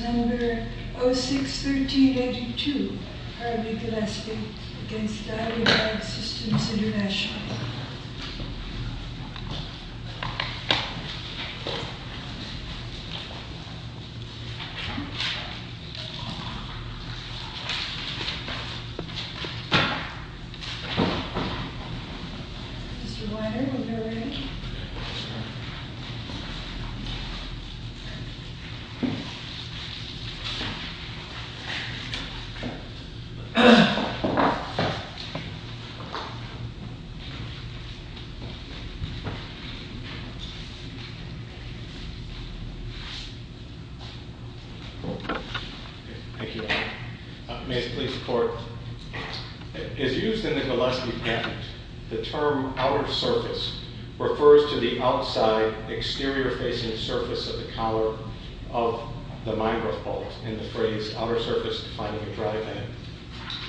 Number 061382, Harvey Gillespie v. Dywidag Systems, International. Mr. Weiner, are we ready? Thank you. May it please the court. As used in the Gillespie patent, the term outer surface refers to the outside, exterior-facing surface of the collar of the mine growth bolt, in the phrase, outer surface to find a new drive end,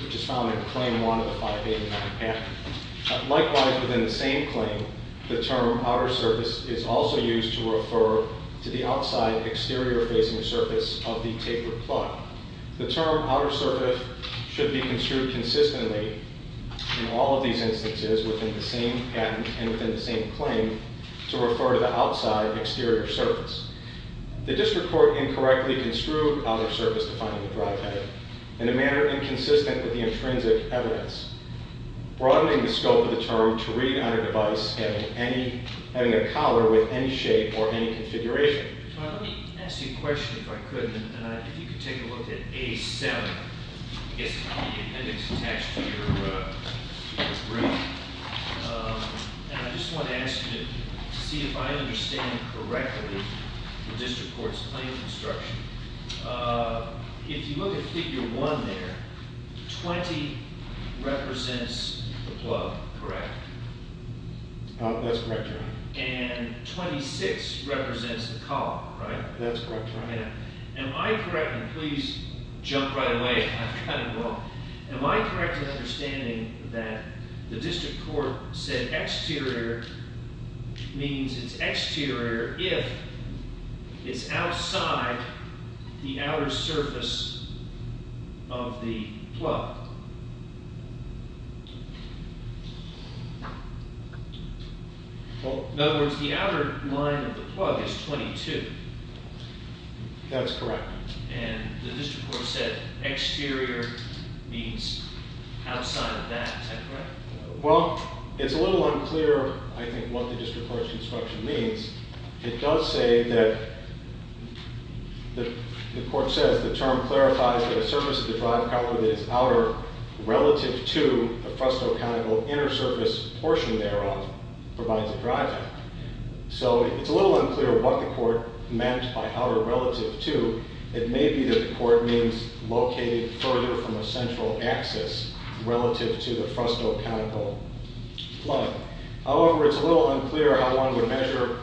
which is found in Claim 1 of the 589 patent. Likewise, within the same claim, the term outer surface is also used to refer to the outside, exterior-facing surface of the tapered plug. The term outer surface should be construed consistently in all of these instances within the same patent and within the same claim to refer to the outside, exterior surface. The district court incorrectly construed outer surface to find a new drive end in a manner inconsistent with the intrinsic evidence, broadening the scope of the term to read on a device having a collar with any shape or any configuration. Let me ask you a question if I could, and if you could take a look at A7. I guess the appendix attached to your brief. And I just want to ask you to see if I understand correctly the district court's claim construction. If you look at Figure 1 there, 20 represents the plug, correct? That's correct, Your Honor. And 26 represents the collar, right? That's correct, Your Honor. Am I correct, and please jump right away, I've got to go. Am I correct in understanding that the district court said exterior means it's exterior if it's outside the outer surface of the plug? In other words, the outer line of the plug is 22. That's correct. And the district court said exterior means outside of that, is that correct? Well, it's a little unclear, I think, what the district court's construction means. It does say that the court says the term clarifies that a surface of the drive collar that is outer relative to the frustoconical inner surface portion thereof provides a drive. So it's a little unclear what the court meant by outer relative to. It may be that the court means located further from a central axis relative to the frustoconical plug. However, it's a little unclear how one would measure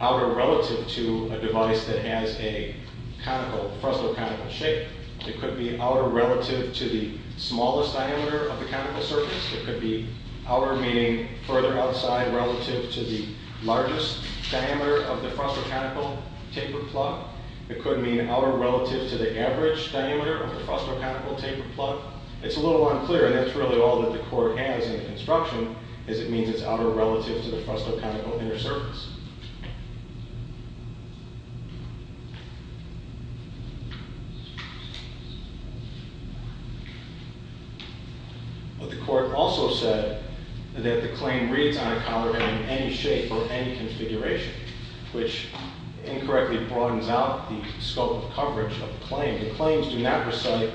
outer relative to a device that has a conical, frustoconical shape. It could be outer relative to the smallest diameter of the conical surface. It could be outer meaning further outside relative to the largest diameter of the frustoconical tapered plug. It could mean outer relative to the average diameter of the frustoconical tapered plug. It's a little unclear, and that's really all that the court has in the construction, is it means it's outer relative to the frustoconical inner surface. But the court also said that the claim reads on a collar in any shape or any configuration, which incorrectly broadens out the scope of coverage of the claim. The claims do not recite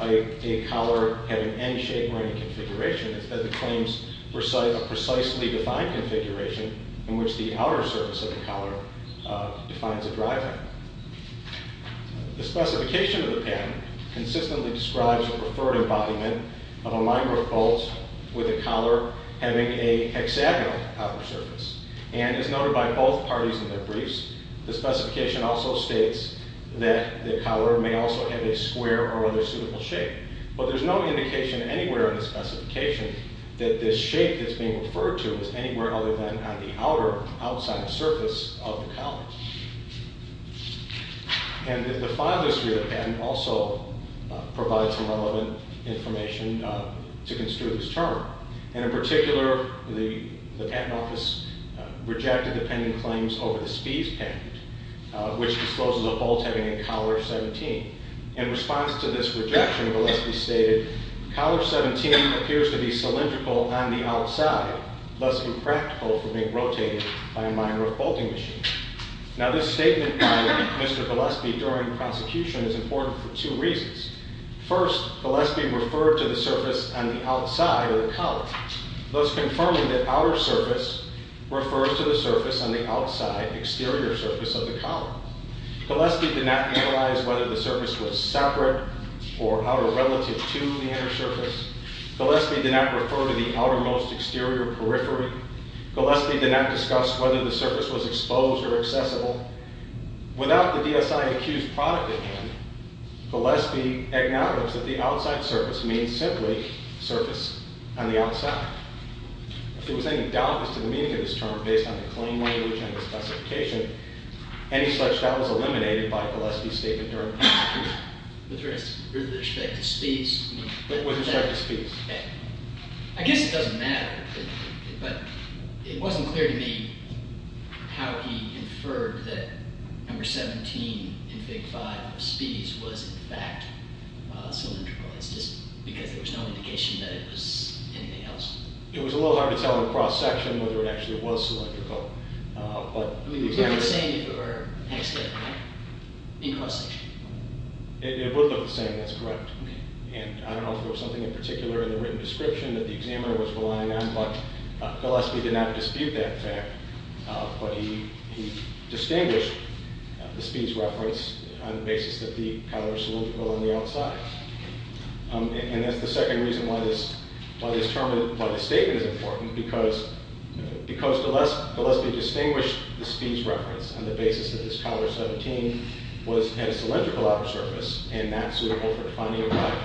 a collar having any shape or any configuration. Instead, the claims recite a precisely defined configuration in which the outer surface of the collar defines a driving. The specification of the patent consistently describes a preferred embodiment of a minor fault with a collar having a hexagonal outer surface. And as noted by both parties in their briefs, the specification also states that the collar may also have a square or other suitable shape. But there's no indication anywhere in the specification that this shape that's being referred to is anywhere other than on the outer, outside surface of the collar. And the file that's here in the patent also provides some relevant information to construe this term. And in particular, the patent office rejected the pending claims over the Spies patent, which discloses a bolt having a collar 17. In response to this rejection, Gillespie stated, collar 17 appears to be cylindrical on the outside, thus impractical for being rotated by a minor bolting machine. Now, this statement by Mr. Gillespie during the prosecution is important for two reasons. First, Gillespie referred to the surface on the outside of the collar, thus confirming that outer surface refers to the surface on the outside, exterior surface of the collar. Gillespie did not analyze whether the surface was separate or outer relative to the inner surface. Gillespie did not refer to the outermost exterior periphery. Gillespie did not discuss whether the surface was exposed or accessible. Without the DSI accused product at hand, Gillespie acknowledges that the outside surface means simply surface on the outside. If there was any doubt as to the meaning of this term based on the claim language and the specification, any such doubt was eliminated by Gillespie's statement during the prosecution. With respect to Spies? With respect to Spies. I guess it doesn't matter. But it wasn't clear to me how he inferred that number 17 in Fig. 5 of Spies was in fact cylindrical. It's just because there was no indication that it was anything else. It was a little hard to tell in cross-section whether it actually was cylindrical. I mean, would it look the same in cross-section? It would look the same, that's correct. And I don't know if there was something in particular in the written description that the examiner was relying on, but Gillespie did not dispute that fact. But he distinguished the Spies reference on the basis that the collar is cylindrical on the outside. And that's the second reason why this statement is important, because Gillespie distinguished the Spies reference on the basis that this collar 17 had a cylindrical outer surface and not suitable for defining a drive.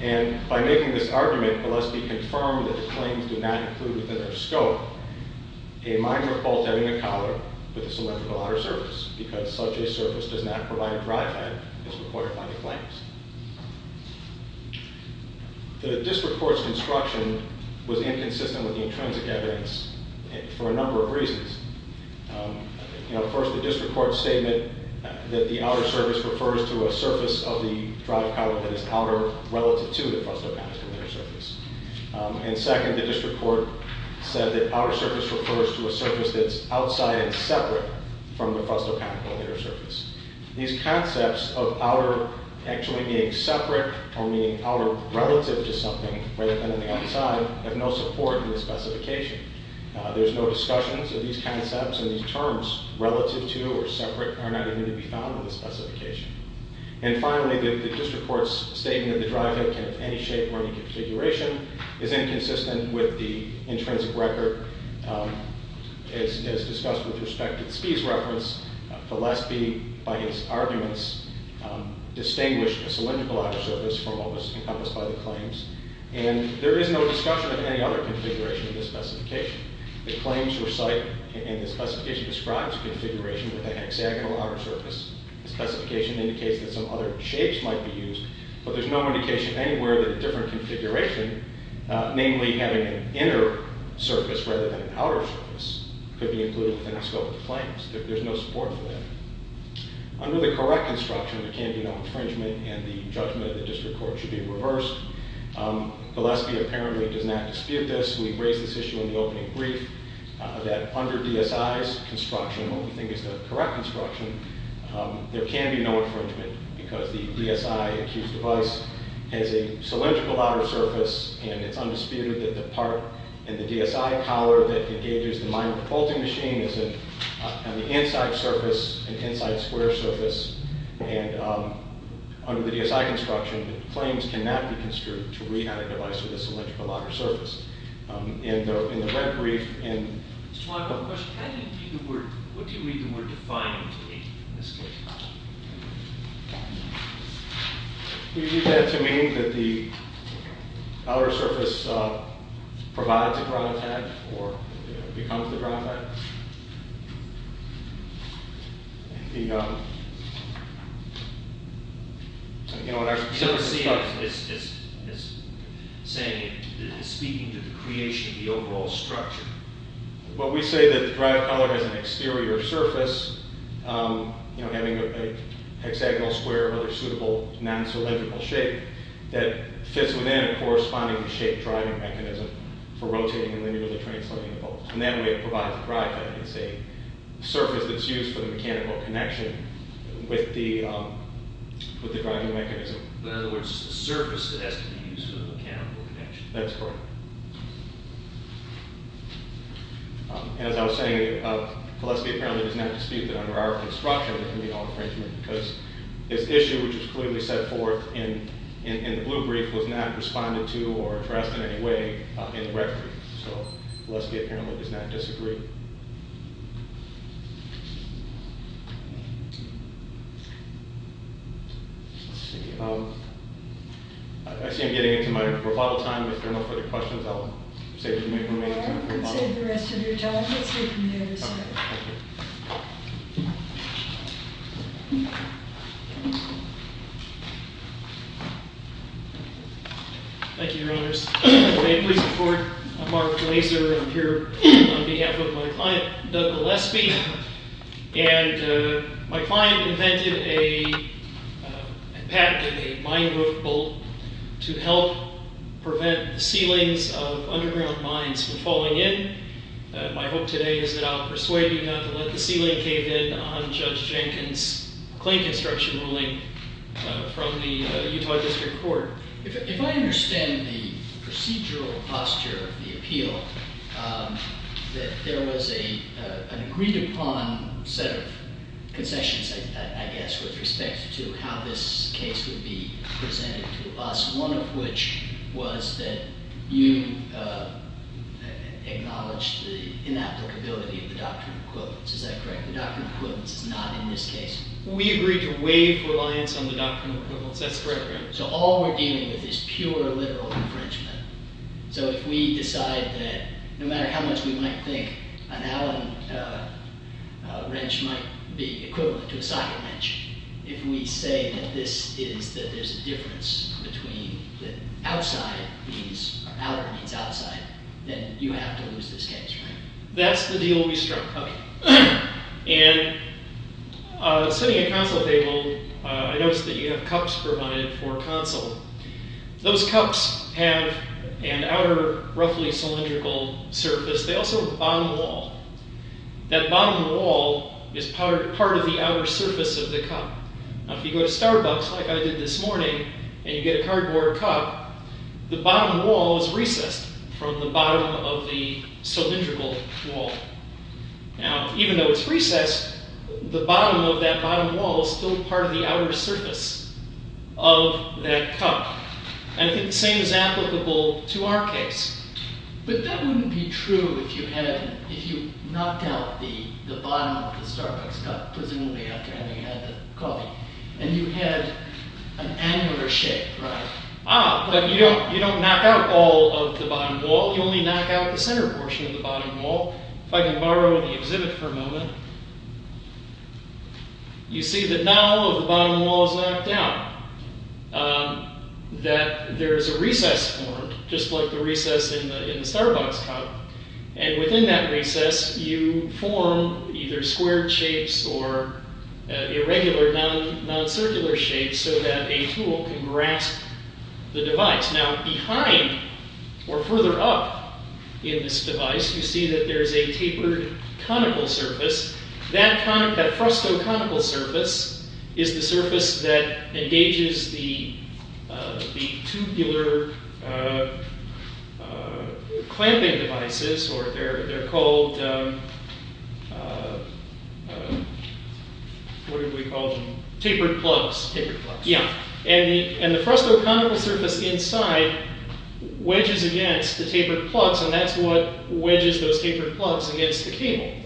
And by making this argument, Gillespie confirmed that the claims do not include within their scope a minor fault having a collar with a cylindrical outer surface, because such a surface does not provide a drive that is reported by the claims. The district court's construction was inconsistent with the intrinsic evidence for a number of reasons. First, the district court's statement that the outer surface refers to a surface of the drive collar that is outer relative to the frustopanical inner surface. And second, the district court said that outer surface refers to a surface that's outside and separate from the frustopanical inner surface. These concepts of outer actually being separate or meaning outer relative to something, rather than on the outside, have no support in the specification. There's no discussions of these concepts, and these terms, relative to or separate, are not even to be found in the specification. And finally, the district court's statement that the drive head can have any shape or any configuration is inconsistent with the intrinsic record as discussed with respect to the Spies reference. Gillespie, by his arguments, distinguished a cylindrical outer surface from what was encompassed by the claims. And there is no discussion of any other configuration in the specification. The claims recite, and the specification describes, a configuration with a hexagonal outer surface. The specification indicates that some other shapes might be used, but there's no indication anywhere that a different configuration, namely having an inner surface rather than an outer surface, could be included within the scope of the claims. There's no support for that. Under the correct construction, there can be no infringement, and the judgment of the district court should be reversed. Gillespie apparently does not dispute this. We raised this issue in the opening brief, that under DSI's construction, what we think is the correct construction, there can be no infringement because the DSI-accused device has a cylindrical outer surface, and it's undisputed that the part in the DSI collar that engages the minor bolting machine is on the inside surface, an inside square surface. And under the DSI construction, the claims cannot be construed to read on a device with a cylindrical outer surface. And in the red brief, and... Mr. Juanco, question. What do you read the word defined to mean in this case? We read that to mean that the outer surface provides a ground pad, or becomes the ground pad. The, um... You know, in our... It's saying, it's speaking to the creation of the overall structure. But we say that the drive collar has an exterior surface, you know, having a hexagonal square or other suitable non-cylindrical shape, that fits within a correspondingly shaped driving mechanism for rotating and linearly translating bolts. And that way it provides a drive pad. It's a surface that's used for the mechanical connection with the driving mechanism. In other words, a surface that has to be used for the mechanical connection. That's correct. As I was saying, Valesky apparently does not dispute that under our construction, there can be an alteration, because his issue, which was clearly set forth in the blue brief, was not responded to or addressed in any way in the red brief. So, Valesky apparently does not disagree. Let's see, um... I see I'm getting into my rebuttal time. If there are no further questions, I'll save the rest of your time. Thank you, Your Honors. May it please the Court, I'm Mark Glaser. I'm here on behalf of my client, Doug Gillespie. And my client invented and patented a mine roof bolt to help prevent the ceilings of underground mines from falling in. My hope today is that I'll persuade you not to let the ceiling cave in on Judge Jenkins' claim construction ruling from the Utah District Court. There was an agreed-upon set of concessions, I guess, with respect to how this case would be presented to us, one of which was that you acknowledge the inapplicability of the doctrine of equivalence. Is that correct? The doctrine of equivalence is not in this case. We agreed to waive reliance on the doctrine of equivalence. That's correct, Your Honor. So all we're dealing with is pure, literal infringement. So if we decide that, no matter how much we might think, an Allen wrench might be equivalent to a socket wrench, if we say that this is, that there's a difference between the outside means, or outer means outside, then you have to lose this case, right? That's the deal we struck. Okay. And sitting at console table, I noticed that you have cups provided for console. Those cups have an outer, roughly cylindrical surface. They also have a bottom wall. That bottom wall is part of the outer surface of the cup. Now, if you go to Starbucks, like I did this morning, and you get a cardboard cup, the bottom wall is recessed from the bottom of the cylindrical wall. Now, even though it's recessed, the bottom of that bottom wall is still part of the outer surface of that cup. And I think the same is applicable to our case. But that wouldn't be true if you had, if you knocked out the bottom of the Starbucks cup, presumably after having had the coffee, and you had an angular shape, right? Ah, but you don't knock out all of the bottom wall. You only knock out the center portion of the bottom wall. If I can borrow the exhibit for a moment. You see that not all of the bottom wall is knocked out. Ah, that there is a recess formed, just like the recess in the Starbucks cup. And within that recess, you form either square shapes, or irregular, non-circular shapes, so that a tool can grasp the device. Now, behind, or further up in this device, you see that there is a tapered conical surface. That conical, that frusto-conical surface, is the surface that engages the tubular clamping devices, or they're called, what do we call them? Tapered plugs. Tapered plugs. Yeah, and the frusto-conical surface inside wedges against the tapered plugs, and that's what wedges those tapered plugs against the cable.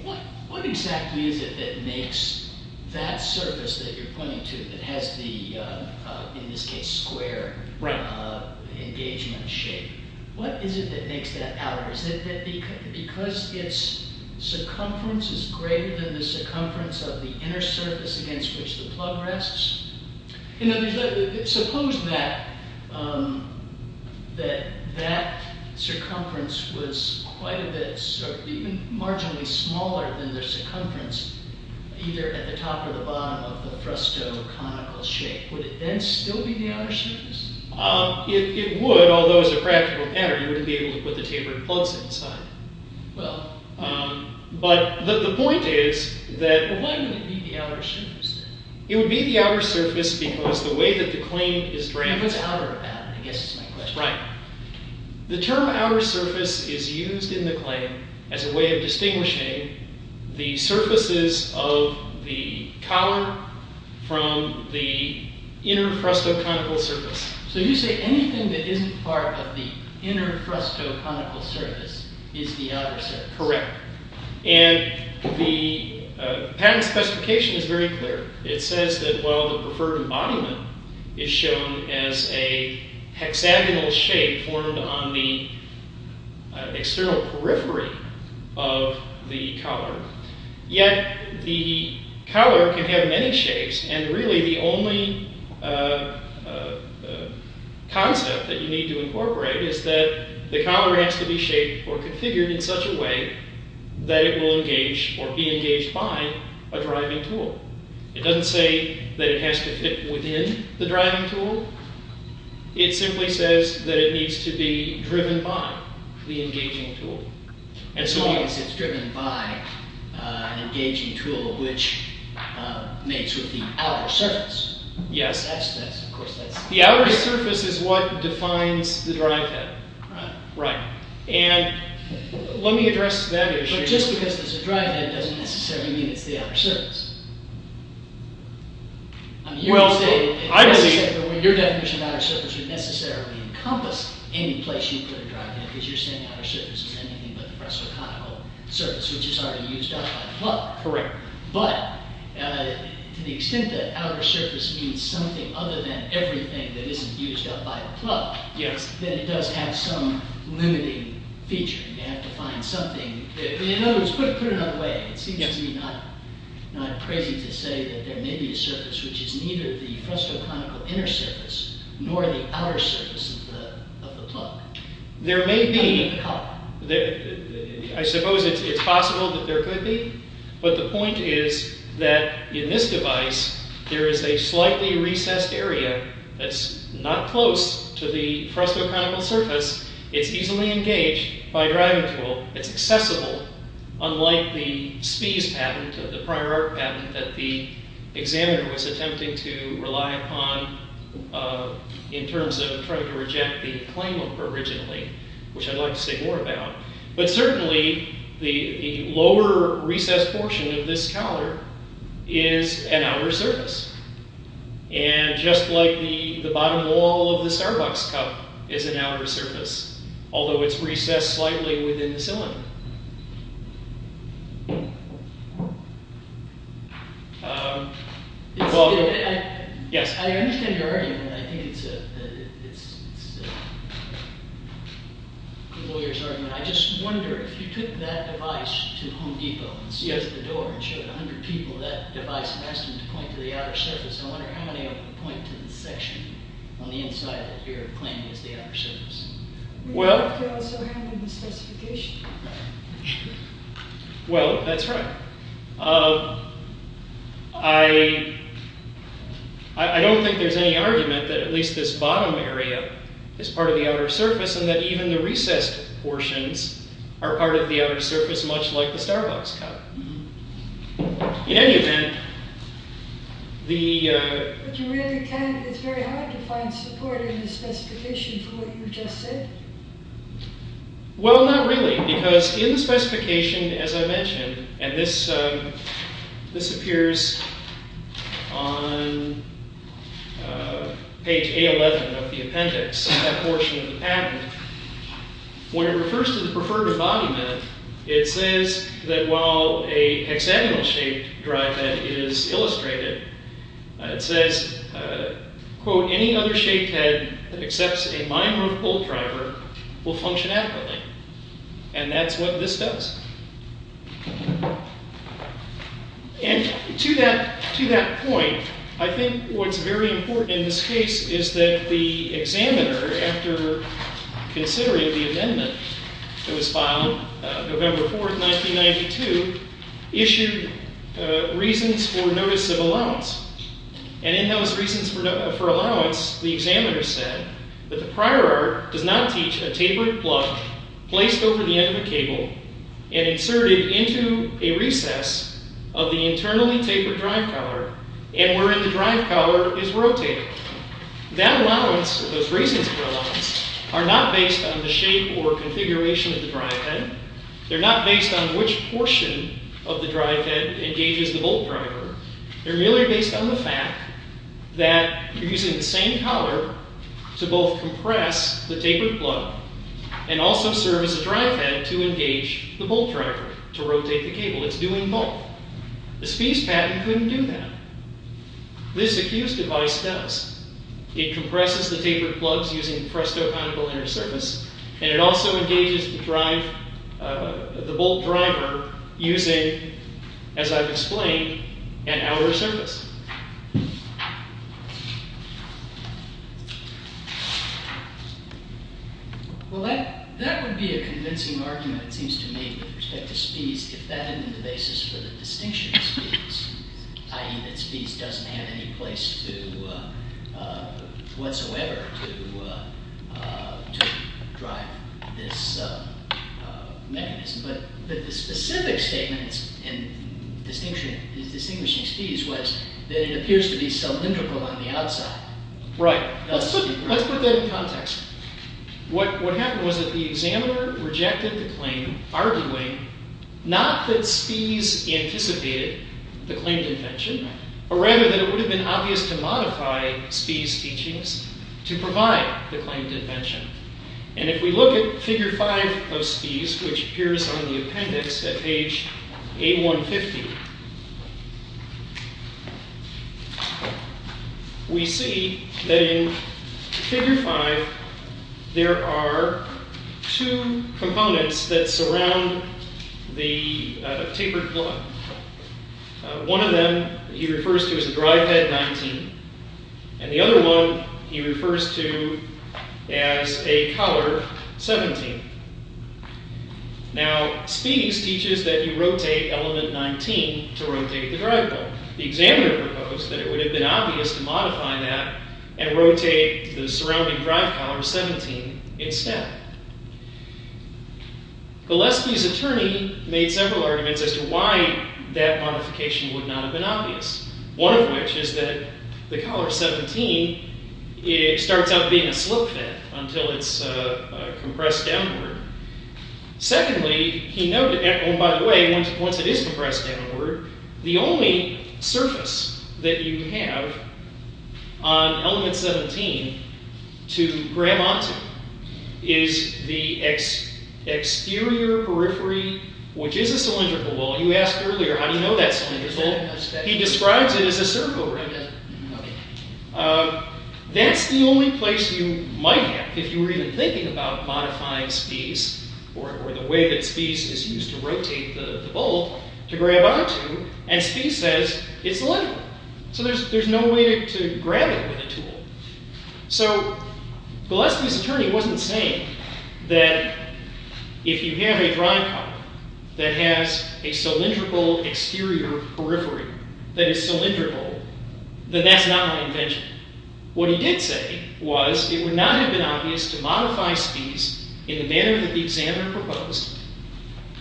What exactly is it that makes that surface that you're pointing to, that has the, in this case, square engagement shape, what is it that makes that outer? Is it because its circumference is greater than the circumference of the inner surface against which the plug rests? Suppose that that circumference was quite a bit, even marginally smaller than the circumference either at the top or the bottom of the frusto-conical shape. Would it then still be the outer surface? It would, although as a practical matter, you wouldn't be able to put the tapered plugs inside. Well. But the point is that, well, why wouldn't it be the outer surface? It would be the outer surface because the way that the claim is drafted... What's outer about it, I guess is my question. Right. The term outer surface is used in the claim as a way of distinguishing the surfaces of the collar from the inner frusto-conical surface. So you say anything that isn't part of the inner frusto-conical surface is the outer surface. Correct. And the patent specification is very clear. It says that while the preferred embodiment is shown as a hexagonal shape formed on the external periphery of the collar, yet the collar can have many shapes and really the only concept that you need to incorporate is that the collar has to be shaped or configured in such a way that it will engage or be engaged by a driving tool. It doesn't say that it has to fit within the driving tool. It simply says that it needs to be driven by the engaging tool. Because it's driven by an engaging tool which meets with the outer surface. Yes. Of course that's... The outer surface is what defines the drive pattern. Right. And let me address that issue. But just because there's a drive head doesn't necessarily mean it's the outer surface. Well, I believe... Your definition of outer surface would necessarily encompass any place you'd put a drive head because you're saying outer surface is anything but the frusto-conical surface which is already used up by the plug. Correct. But to the extent that outer surface means something other than everything that isn't used up by the plug... Yes. ...then it does have some limiting feature. You have to find something... In other words, put it another way. It seems to me not crazy to say that there may be a surface which is neither the frusto-conical inner surface nor the outer surface of the plug. There may be... I suppose it's possible that there could be. But the point is that in this device there is a slightly recessed area that's not close to the frusto-conical surface. It's easily engaged by a driving tool. It's accessible, unlike the SPEES patent, the prior art patent, that the examiner was attempting to rely upon in terms of trying to reject the claim of originally, which I'd like to say more about. But certainly the lower recessed portion of this counter is an outer surface. And just like the bottom wall of the Starbucks cup is an outer surface, although it's recessed slightly within the cylinder. Yes. I understand your argument. I think it's a lawyer's argument. I just wonder, if you took that device to Home Depot and closed the door and showed 100 people that device and asked them to point to the outer surface, I wonder how many of them would point to the section on the inside that you're claiming is the outer surface. Well... You could also handle the specification. Well, that's right. I don't think there's any argument that at least this bottom area is part of the outer surface and that even the recessed portions are part of the outer surface, much like the Starbucks cup. In any event, the... But you really can't... It's very hard to find support in the specification for what you just said. Well, not really. Because in the specification, as I mentioned, and this appears on page A11 of the appendix, that portion of the patent, when it refers to the preferred embodiment, it says that while a hexagonal-shaped drive head is illustrated, it says, quote, any other shaped head that accepts a mime roof pole driver will function adequately. And that's what this does. And to that point, I think what's very important in this case is that the examiner, after considering the amendment that was filed November 4, 1992, issued reasons for notice of allowance. And in those reasons for allowance, the examiner said that the prior art does not teach a tapered plug placed over the end of a cable and inserted into a recess of the internally tapered drive collar and wherein the drive collar is rotated. That allowance, those reasons for allowance, are not based on the shape or configuration of the drive head. They're not based on which portion of the drive head engages the bolt driver. They're merely based on the fact that you're using the same collar to both compress the tapered plug and also serve as a drive head to engage the bolt driver, to rotate the cable. It's doing both. The Spiess patent couldn't do that. This accused device does. It compresses the tapered plugs using presto conical inner surface and it also engages the bolt driver using, as I've explained, an outer surface. Well, that would be a convincing argument, it seems to me, with respect to Spiess if that isn't the basis for the distinction of Spiess, i.e. that Spiess doesn't have any place whatsoever to drive this mechanism. But the specific statement in distinguishing Spiess was that it appears to be cylindrical on the outside. Right. Let's put that in context. What happened was that the examiner rejected the claim, arguing not that Spiess anticipated the claimed invention, but rather that it would have been obvious to modify Spiess teachings to provide the claimed invention. And if we look at figure 5 of Spiess, which appears on the appendix at page 8150, we see that in figure 5 there are two components that surround the tapered plug. One of them he refers to as a drive head 19, and the other one he refers to as a collar 17. Now, Spiess teaches that you rotate element 19 to rotate the drive bolt. The examiner proposed that it would have been obvious to modify that and rotate the surrounding drive collar 17 instead. Gillespie's attorney made several arguments as to why that modification would not have been obvious. One of which is that the collar 17 starts out being a slip fit until it's compressed downward. Secondly, he noted, and by the way, once it is compressed downward, the only surface that you have on element 17 to grab onto is the exterior periphery, which is a cylindrical bolt. You asked earlier, how do you know that's cylindrical? He describes it as a circle ring. That's the only place you might have if you were even thinking about modifying Spiess, or the way that Spiess is used to rotate the bolt to grab onto, and Spiess says it's cylindrical. So there's no way to grab it with a tool. So Gillespie's attorney wasn't saying that if you have a drive collar that has a cylindrical exterior periphery that is cylindrical, then that's not an invention. What he did say was it would not have been obvious to modify Spiess in the manner that the examiner proposed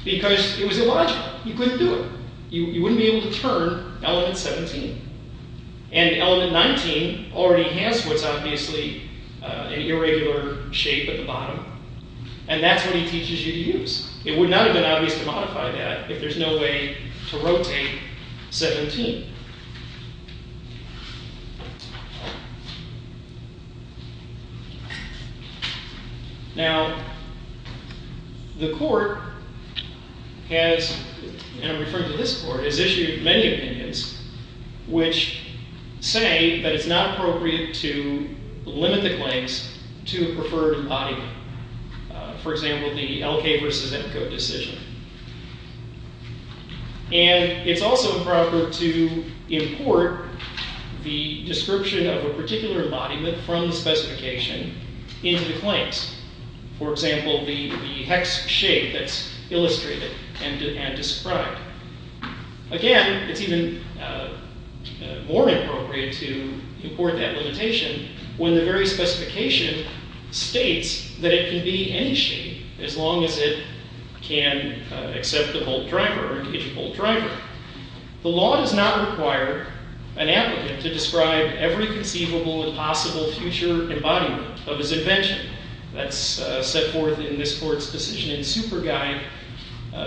because it was illogical. You couldn't do it. You wouldn't be able to turn element 17. And element 19 already has what's obviously an irregular shape at the bottom, and that's what he teaches you to use. It would not have been obvious to modify that if there's no way to rotate 17. Now, the court has, and I'm referring to this court, has issued many opinions which say that it's not appropriate to limit the claims to a preferred embodiment. For example, the L.K. vs. Emko decision. And it's also appropriate to import the description of a particular embodiment from the specification into the claims. For example, the hex shape that's illustrated and described. Again, it's even more appropriate to import that limitation when the very specification states that it can be any shape as long as it can accept the bolt driver or engage a bolt driver. The law does not require an applicant to describe every conceivable and possible future embodiment of his invention. That's set forth in this court's decision in Super Guide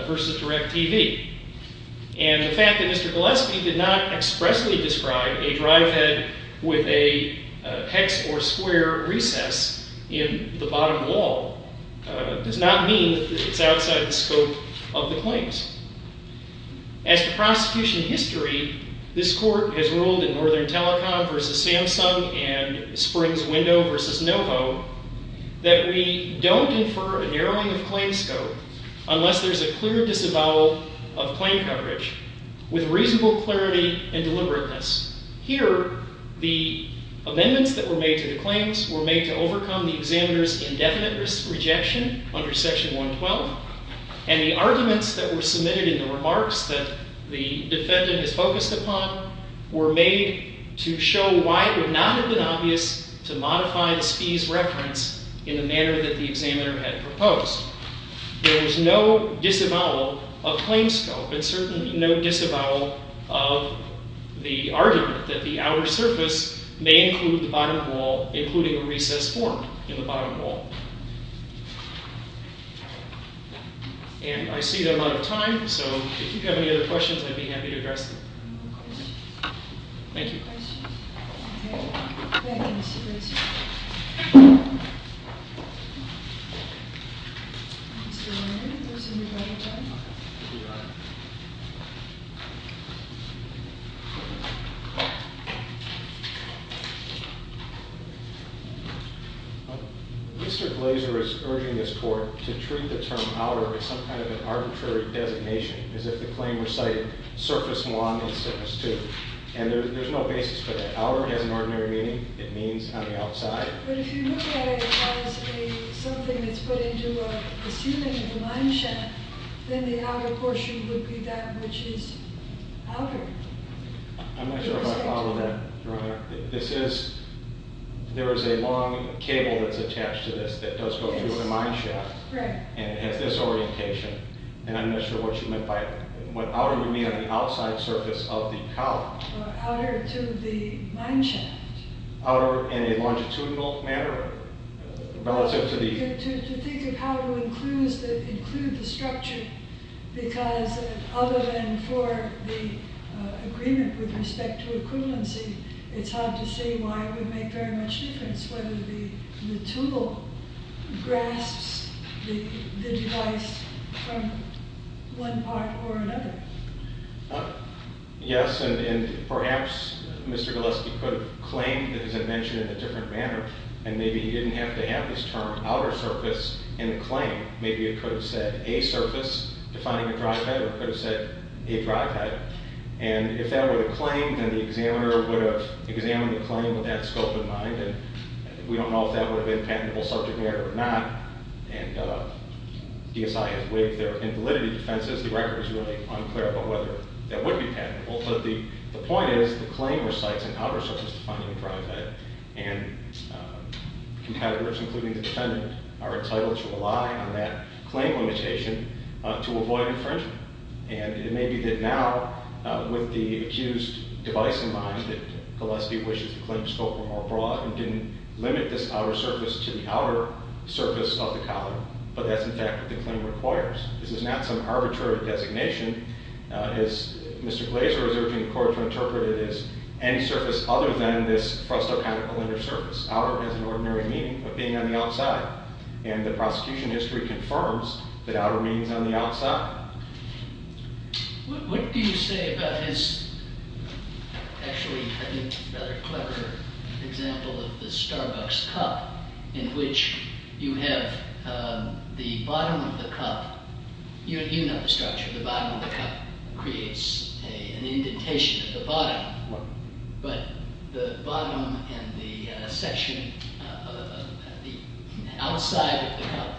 vs. Direct TV. And the fact that Mr. Gillespie did not expressly describe a drive head with a hex or square recess in the bottom wall does not mean that it's outside the scope of the claims. As to prosecution history, this court has ruled in Northern Telecom vs. Samsung and Springs Window vs. NoHo that we don't infer a narrowing of claim scope unless there's a clear disavowal of claim coverage with reasonable clarity and deliberateness. Here, the amendments that were made to the claims were made to overcome the examiner's indefinite rejection under Section 112, and the arguments that were submitted in the remarks that the defendant has focused upon were made to show why it would not have been obvious to modify the Spies reference in the manner that the examiner had proposed. There is no disavowal of claim scope and certainly no disavowal of the argument that the outer surface may include the bottom wall, including a recess form in the bottom wall. And I see that I'm out of time, so if you have any other questions, I'd be happy to address them. Thank you. Mr. Glazer is urging this Court to treat the term outer as some kind of an arbitrary designation, as if the claim recited surface 1 and surface 2, and there's no basis for that. Outer has an ordinary meaning. It means on the outside. But if you look at it as something then the outer portion would be that. I'm not sure if I follow that, Your Honor. There is a long cable that's attached to this that does go through the mineshaft. And it has this orientation. And I'm not sure what you meant by it. What outer would mean on the outside surface of the column? Outer to the mineshaft. Outer in a longitudinal manner relative to the... To think of how to include the structure because other than for the agreement with respect to equivalency, it's hard to see why it would make very much difference whether the tool grasps the device from one part or another. Yes, and perhaps Mr. Galeski could have claimed, as I mentioned, in a different manner, outer surface in the claim. Maybe it could have said a surface defining a drive head or it could have said a drive head. And if that were the claim, then the examiner would have examined the claim with that scope in mind. And we don't know if that would have been patentable subject matter or not. And DSI has waived their invalidity defenses. The record is really unclear about whether that would be patentable. But the point is the claim recites an outer surface defining a drive head. And competitors, including the defendant, are entitled to rely on that claim limitation to avoid infringement. And it may be that now, with the accused device in mind, that Galeski wishes the claim scope were more broad and didn't limit this outer surface to the outer surface of the collar. But that's, in fact, what the claim requires. This is not some arbitrary designation. As Mr. Glazer is urging the court to interpret it as any surface other than this frustacantical inner surface. Outer has an ordinary meaning of being on the outside. And the prosecution history confirms that outer means on the outside. What do you say about his, actually, I think, rather clever example of the Starbucks cup, in which you have the bottom of the cup. You know the structure. The bottom of the cup creates an indentation at the bottom. But the bottom and the section outside of the cup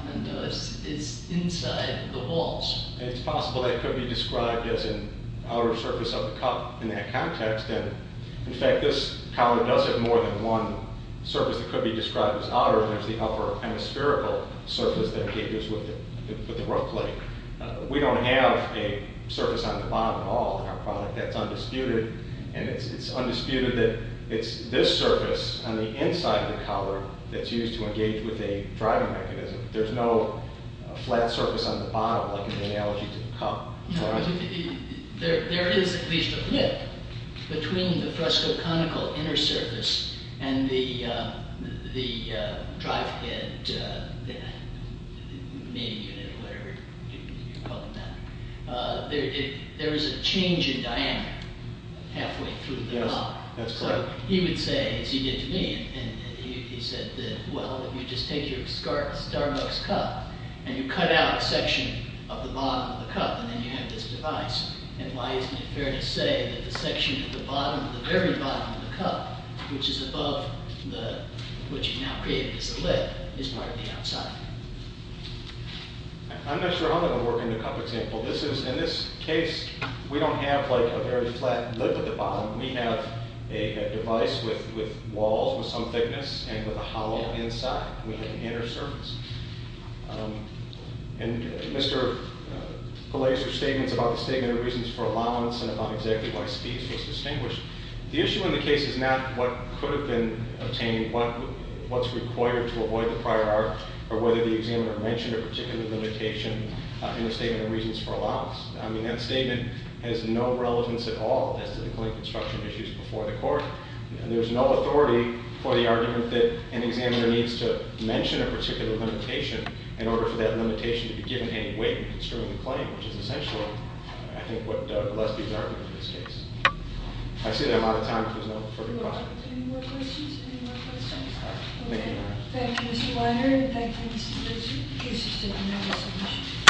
is inside the walls. And it's possible that it could be described as an outer surface of the cup in that context. And, in fact, this collar does have more than one surface that could be described as outer. And there's the upper hemispherical surface that engages with the roof plate. We don't have a surface on the bottom at all in our product. That's undisputed. And it's undisputed that it's this surface on the inside of the collar that's used to engage with a driving mechanism. There's no flat surface on the bottom, like in the analogy to the cup. There is at least a flip between the frustacantical inner surface and the drive head, main unit, whatever you call it now. There is a change in diameter halfway through the collar. Yes, that's correct. So he would say, as he did to me, he said that, well, if you just take your Starbucks cup and you cut out a section of the bottom of the cup, and then you have this device. And why isn't it fair to say that the section at the very bottom of the cup, which is above what you've now created as the lid, is part of the outside? I'm not sure how that would work in a cup example. In this case, we don't have a very flat lip at the bottom. We have a device with walls with some thickness and with a hollow inside with an inner surface. And Mr. Pillay's statements about the statement of reasons for allowance and about exactly why Steve's was distinguished. The issue in the case is not what could have been obtained, what's required to avoid the prior art, or whether the examiner mentioned a particular limitation in the statement of reasons for allowance. I mean, that statement has no relevance at all as to the claim construction issues before the court. And there's no authority for the argument that an examiner needs to mention a particular limitation in order for that limitation to be given any weight in construing the claim, which is essentially, I think, what Doug Gillespie's argument in this case. I've seen it a lot of times, but there's no further comment. Any more questions? Any more questions? Thank you, Your Honor. Thank you, Mr. Weiner. Thank you, Mr. Ritchie. Thank you so much.